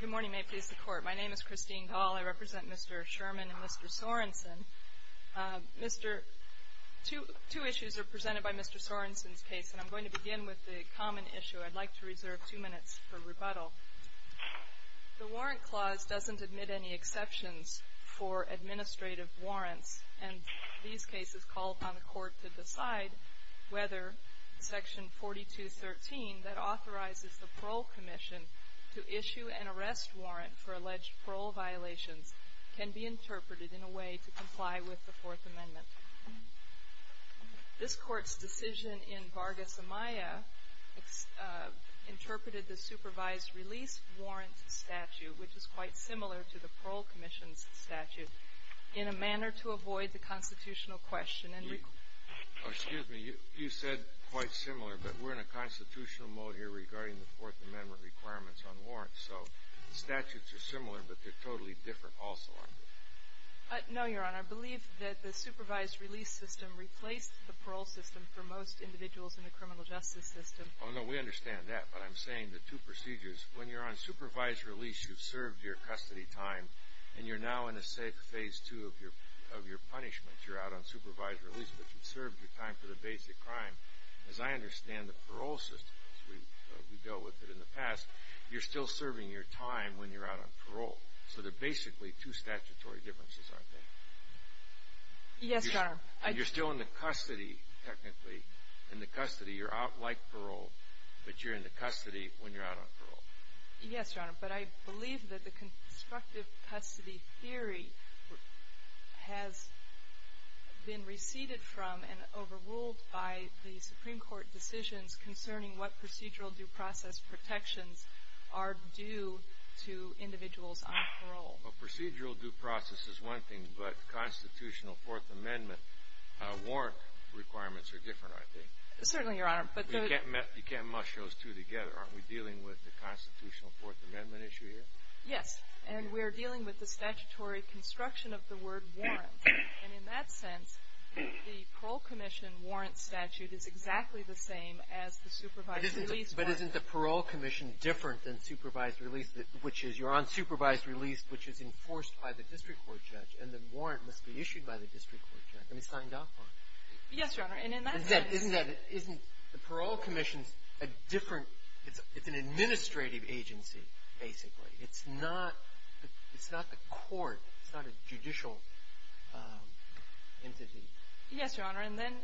Good morning. May it please the Court. My name is Christine Dahl. I represent Mr. Sherman and Mr. Sorenson. Two issues are presented by Mr. Sorenson's case, and I'm going to begin with the common issue. I'd like to reserve two minutes for rebuttal. The Warrant Clause doesn't admit any exceptions for administrative warrants, and these cases call upon the Court to decide whether Section 4213, that authorizes the Parole Commission to issue an arrest warrant for alleged parole violations, can be interpreted in a way to comply with the Fourth Amendment. This Court's decision in Vargas-Amaya interpreted the supervised release warrant statute, which is quite similar to the Parole Commission's statute, in a manner to avoid the constitutional question. Excuse me. You said quite similar, but we're in a constitutional mode here regarding the Fourth Amendment requirements on warrants, so the statutes are similar, but they're totally different also, aren't they? No, Your Honor. I believe that the supervised release system replaced the parole system for most individuals in the criminal justice system. Oh, no, we understand that, but I'm saying the two procedures. When you're on supervised release, you've served your custody time, and you're now in a safe Phase 2 of your punishment. You're out on supervised release, but you've served your time for the basic crime. As I understand the parole system, as we've dealt with it in the past, you're still serving your time when you're out on parole. So they're basically two statutory differences, aren't they? Yes, Your Honor. You're still in the custody, technically, in the custody. You're out like parole, but you're in the custody when you're out on parole. Yes, Your Honor, but I believe that the constructive custody theory has been receded from and overruled by the Supreme Court decisions concerning what procedural due process protections are due to individuals on parole. Well, procedural due process is one thing, but constitutional Fourth Amendment warrant requirements are different, aren't they? Certainly, Your Honor. You can't mush those two together. Aren't we dealing with the constitutional Fourth Amendment issue here? Yes. And we're dealing with the statutory construction of the word warrant. And in that sense, the Parole Commission warrant statute is exactly the same as the supervised release warrant. But isn't the Parole Commission different than supervised release, which is you're on supervised release, which is enforced by the district court judge, and the warrant must be issued by the district court judge. It's signed off on. Yes, Your Honor. And in that sense — Isn't that — isn't the Parole Commission a different — it's an administrative agency, basically. It's not — it's not the court. It's not a judicial entity. Yes, Your Honor. And then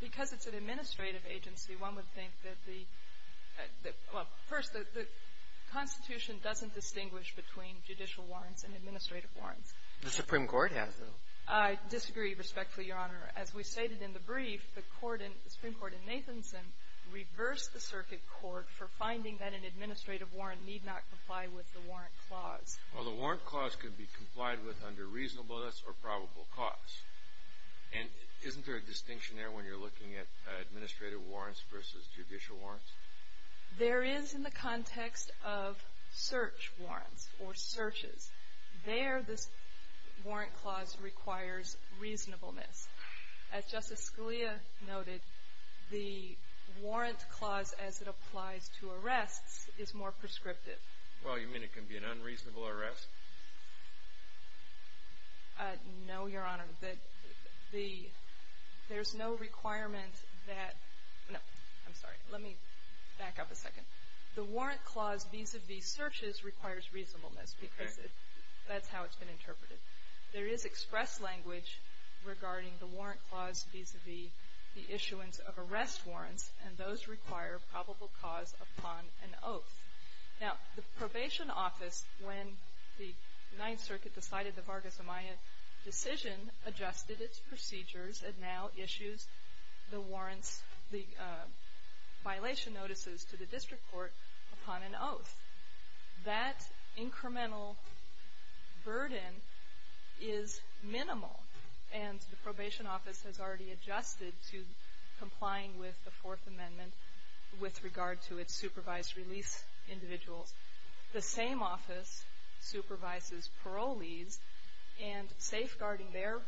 because it's an administrative agency, one would think that the — well, first, the Constitution doesn't distinguish between judicial warrants and administrative warrants. The Supreme Court has, though. I disagree respectfully, Your Honor. As we stated in the brief, the Supreme Court in Nathanson reversed the circuit court for finding that an administrative warrant need not comply with the warrant clause. Well, the warrant clause could be complied with under reasonableness or probable cause. And isn't there a distinction there when you're looking at administrative warrants versus judicial warrants? There is in the context of search warrants or searches. There, this warrant clause requires reasonableness. As Justice Scalia noted, the warrant clause as it applies to arrests is more prescriptive. Well, you mean it can be an unreasonable arrest? No, Your Honor. The — there's no requirement that — no, I'm sorry. Let me back up a second. The warrant clause vis-à-vis searches requires reasonableness because that's how it's been interpreted. There is express language regarding the warrant clause vis-à-vis the issuance of arrest warrants, and those require probable cause upon an oath. Now, the Probation Office, when the Ninth Circuit decided the Vargas-Amaya decision, adjusted its procedures and now issues the warrants, the violation notices to the district court upon an oath. That incremental burden is minimal, and the Probation Office has already adjusted to complying with the Fourth Amendment with regard to its supervised release individuals. The same office supervises parolees, and safeguarding their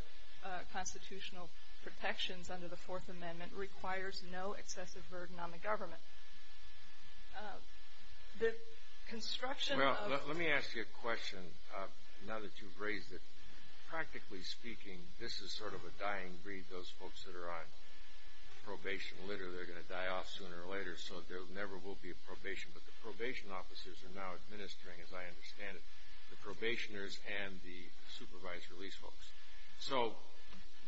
constitutional protections under the Fourth Amendment requires no excessive burden on the government. The construction of — Well, let me ask you a question, now that you've raised it. Practically speaking, this is sort of a dying breed, those folks that are on probation. Literally, they're going to die off sooner or later, so there never will be a probation. But the probation officers are now administering, as I understand it, the probationers and the supervised release folks. So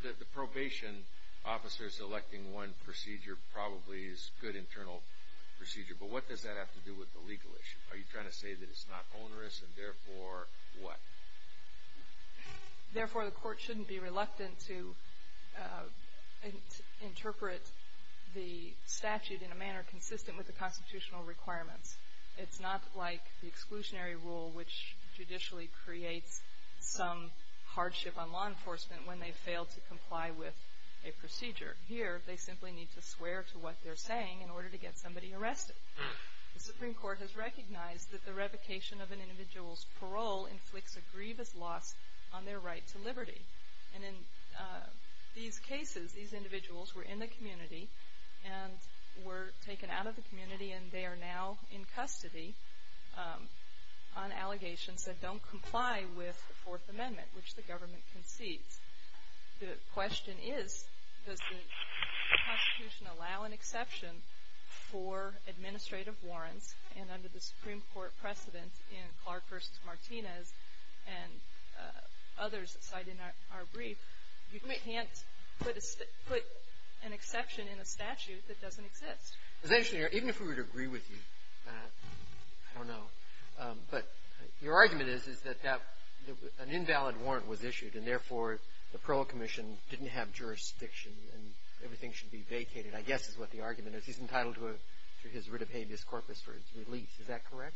the probation officers electing one procedure probably is a good internal procedure, but what does that have to do with the legal issue? Are you trying to say that it's not onerous, and therefore what? Therefore, the court shouldn't be reluctant to interpret the statute in a manner consistent with the constitutional requirements. It's not like the exclusionary rule, which judicially creates some hardship on law enforcement when they fail to comply with a procedure. Here, they simply need to swear to what they're saying in order to get somebody arrested. The Supreme Court has recognized that the revocation of an individual's parole inflicts a grievous loss on their right to liberty. And in these cases, these individuals were in the community and were taken out of the community, and they are now in custody on allegations that don't comply with the Fourth Amendment, which the government concedes. The question is, does the Constitution allow an exception for administrative warrants, and under the Supreme Court precedent in Clark v. Martinez and others cited in our brief, you can't put an exception in a statute that doesn't exist. It's interesting. Even if we were to agree with you, I don't know. But your argument is, is that that an invalid warrant was issued, and therefore the parole commission didn't have jurisdiction and everything should be vacated, I guess is what the argument is. He's entitled to his writ of habeas corpus for his release. Is that correct?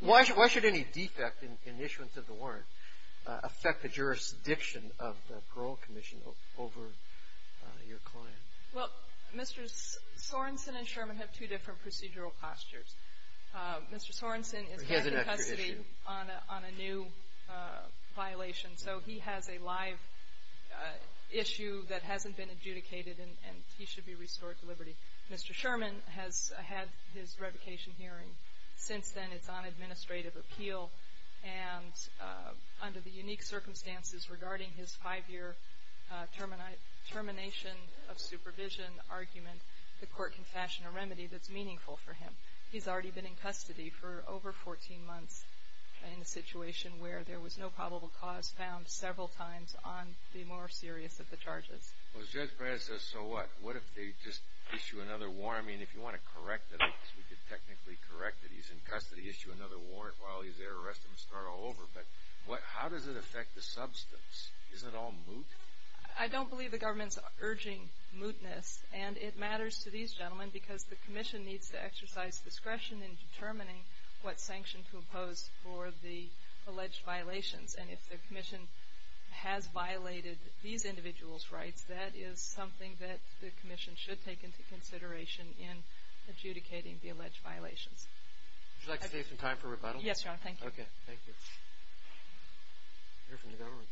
Why should any defect in issuance of the warrant affect the jurisdiction of the parole commission over your client? Well, Mr. Sorensen and Sherman have two different procedural postures. Mr. Sorensen is back in custody on a new violation, so he has a live issue that hasn't been adjudicated, and he should be restored to liberty. Mr. Sherman has had his revocation hearing. Since then, it's on administrative appeal, and under the unique circumstances regarding his five-year termination of supervision argument, the court can fashion a remedy that's meaningful for him. He's already been in custody for over 14 months in a situation where there was no probable cause found several times on the more serious of the charges. Well, as Judge Pratt says, so what? What if they just issue another warrant? I mean, if you want to correct it, we could technically correct it. He's in custody. Issue another warrant while he's there. Arrest him. Start all over. But how does it affect the substance? Isn't it all moot? I don't believe the government's urging mootness, and it matters to these gentlemen because the commission needs to exercise discretion in determining what sanction to impose for the alleged violations. And if the commission has violated these individuals' rights, that is something that the commission should take into consideration in adjudicating the alleged violations. Would you like to save some time for rebuttal? Yes, Your Honor. Thank you. Okay. Thank you. We'll hear from the government.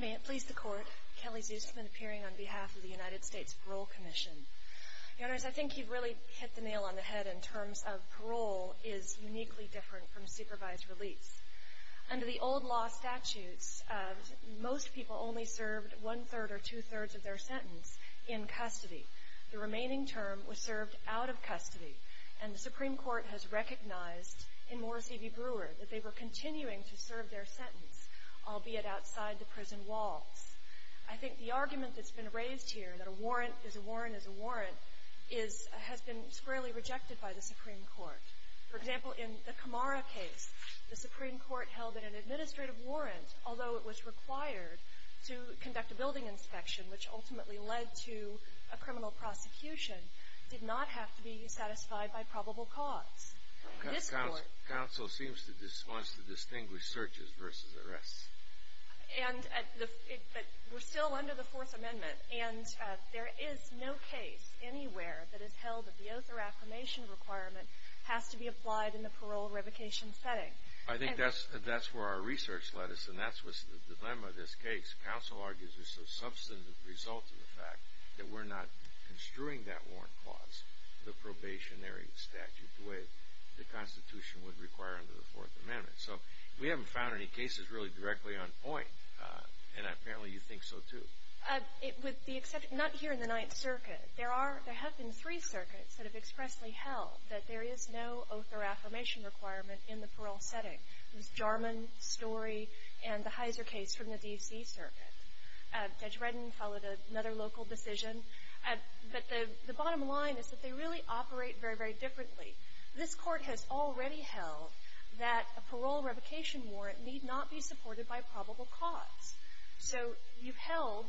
May it please the Court, Kelly Zusman appearing on behalf of the United States Parole Commission. Your Honors, I think you've really hit the nail on the head in terms of parole is uniquely different from supervised release. Under the old law statutes, most people only served one-third or two-thirds of their sentence in custody. The remaining term was served out of custody, and the Supreme Court has recognized in Morris E.V. Brewer that they were continuing to serve their sentence, albeit outside the prison walls. I think the argument that's been raised here, that a warrant is a warrant is a warrant, has been squarely rejected by the Supreme Court. For example, in the Camara case, the Supreme Court held that an administrative warrant, although it was required to conduct a building inspection, which ultimately led to a criminal prosecution, did not have to be satisfied by probable cause. Council seems to want to distinguish searches versus arrests. But we're still under the Fourth Amendment, and there is no case anywhere that has held that the oath or affirmation requirement has to be applied in the parole revocation setting. I think that's where our research led us, and that's what's the dilemma of this case. Council argues there's a substantive result to the fact that we're not construing that warrant clause, the probationary statute, the way the Constitution would require under the Fourth Amendment. So we haven't found any cases really directly on point, and apparently you think so too. It would be except not here in the Ninth Circuit. There are – there have been three circuits that have expressly held that there is no oath or affirmation requirement in the parole setting. It was Jarman, Story, and the Heiser case from the D.C. Circuit. Judge Redden followed another local decision. But the bottom line is that they really operate very, very differently. This Court has already held that a parole revocation warrant need not be supported by probable cause. So you've held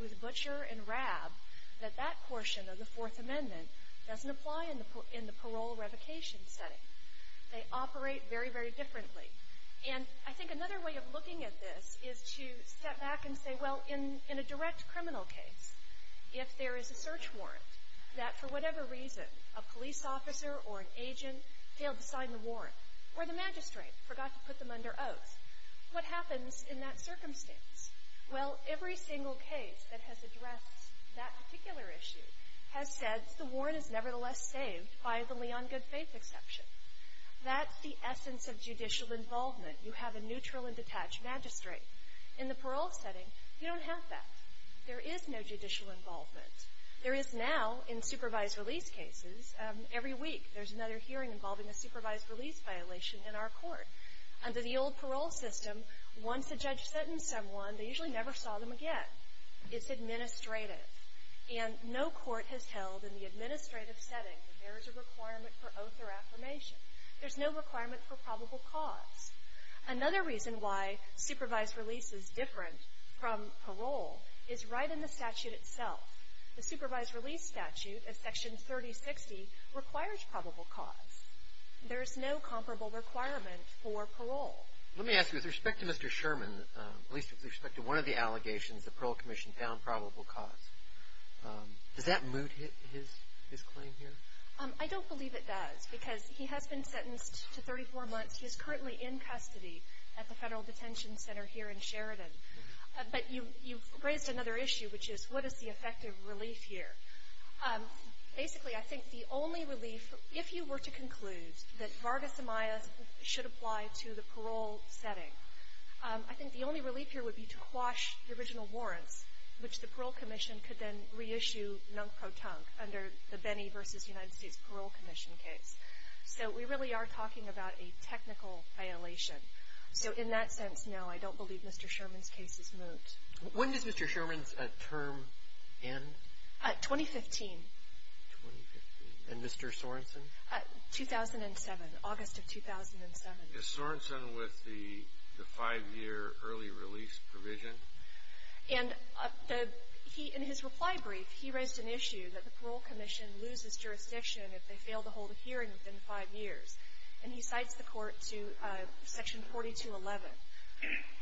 with Butcher and Rabb that that portion of the Fourth Amendment doesn't apply in the parole revocation setting. They operate very, very differently. And I think another way of looking at this is to step back and say, well, in a direct criminal case, if there is a search warrant that, for whatever reason, a police officer or an agent failed to sign the warrant, or the magistrate forgot to put them under oath, what happens in that circumstance? Well, every single case that has addressed that particular issue has said the warrant is nevertheless saved by the Leon Goodfaith exception. That's the essence of judicial involvement. You have a neutral and detached magistrate. In the parole setting, you don't have that. There is no judicial involvement. There is now, in supervised release cases, every week there's another hearing involving a supervised release violation in our court. Under the old parole system, once a judge sentenced someone, they usually never saw them again. It's administrative. And no court has held in the administrative setting that there is a requirement for oath or affirmation. There's no requirement for probable cause. Another reason why supervised release is different from parole is right in the statute itself. The supervised release statute of Section 3060 requires probable cause. There is no comparable requirement for parole. Let me ask you, with respect to Mr. Sherman, at least with respect to one of the allegations, the parole commission found probable cause, does that moot his claim here? I don't believe it does because he has been sentenced to 34 months. He is currently in custody at the Federal Detention Center here in Sheridan. But you've raised another issue, which is what is the effective relief here? Basically, I think the only relief, if you were to conclude that Vargas Amaya should apply to the parole setting, I think the only relief here would be to quash the original warrants, which the parole commission could then reissue nunk-pro-tunk under the Benny v. United States Parole Commission case. So we really are talking about a technical violation. So in that sense, no, I don't believe Mr. Sherman's case is moot. When does Mr. Sherman's term end? 2015. 2015. And Mr. Sorensen? 2007, August of 2007. Is Sorensen with the five-year early release provision? And in his reply brief, he raised an issue that the parole commission loses jurisdiction if they fail to hold a hearing within five years. And he cites the court to Section 4211.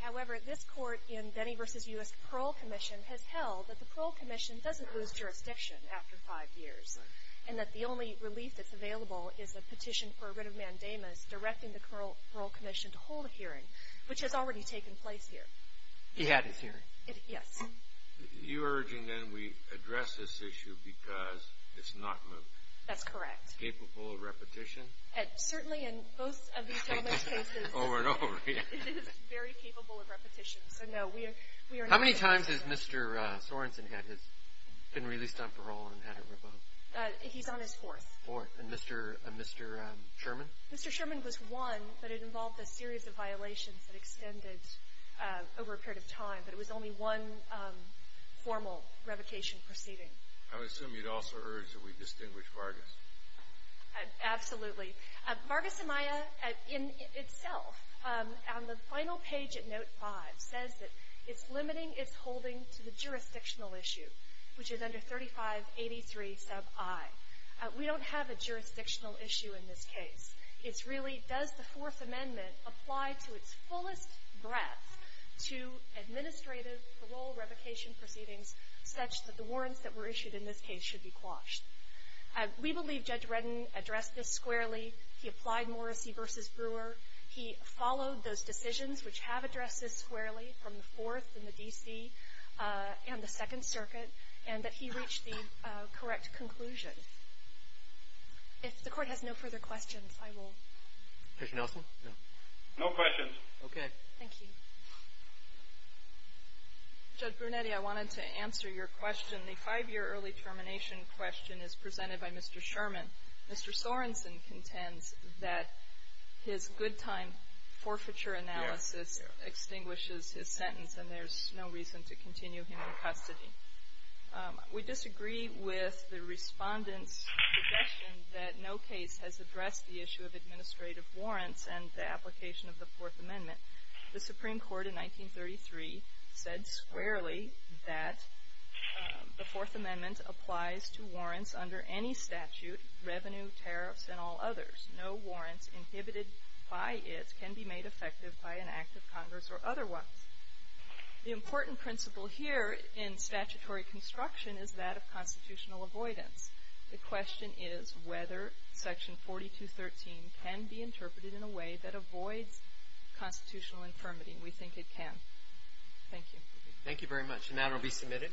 However, this court in Benny v. U.S. Parole Commission has held that the parole commission doesn't lose jurisdiction after five years and that the only relief that's available is a petition for a writ of mandamus directing the parole commission to hold a hearing, which has already taken place here. He had his hearing. Yes. You're urging, then, we address this issue because it's not moot. That's correct. Capable of repetition? Certainly in most of these cases. Over and over. It is very capable of repetition. So, no. How many times has Mr. Sorensen been released on parole and had to revoke? He's on his fourth. Fourth. And Mr. Sherman? Mr. Sherman was one, but it involved a series of violations that extended over a period of time. But it was only one formal revocation proceeding. I would assume you'd also urge that we distinguish Vargas. Absolutely. Vargas-Amaya, in itself, on the final page at Note 5, says that it's limiting its holding to the jurisdictional issue, which is under 3583 sub I. We don't have a jurisdictional issue in this case. It's really, does the Fourth Amendment apply to its fullest breadth to administrative parole revocation proceedings such that the warrants that were issued in this case should be quashed? We believe Judge Redden addressed this squarely. He applied Morrissey v. Brewer. He followed those decisions, which have addressed this squarely, from the Fourth and the D.C. and the Second Circuit, and that he reached the correct conclusion. If the Court has no further questions, I will. Judge Nelson? No. No questions. Okay. Thank you. Judge Brunetti, I wanted to answer your question. The five-year early termination question is presented by Mr. Sherman. Mr. Sorenson contends that his good-time forfeiture analysis extinguishes his sentence, and there's no reason to continue him in custody. We disagree with the Respondent's suggestion that no case has addressed the issue of administrative warrants and the application of the Fourth Amendment. The Supreme Court in 1933 said squarely that the Fourth Amendment applies to warrants under any statute, revenue, tariffs, and all others. No warrants inhibited by it can be made effective by an act of Congress or otherwise. The important principle here in statutory construction is that of constitutional avoidance. The question is whether Section 4213 can be interpreted in a way that avoids constitutional infirmity. We think it can. Thank you. Thank you very much. The matter will be submitted.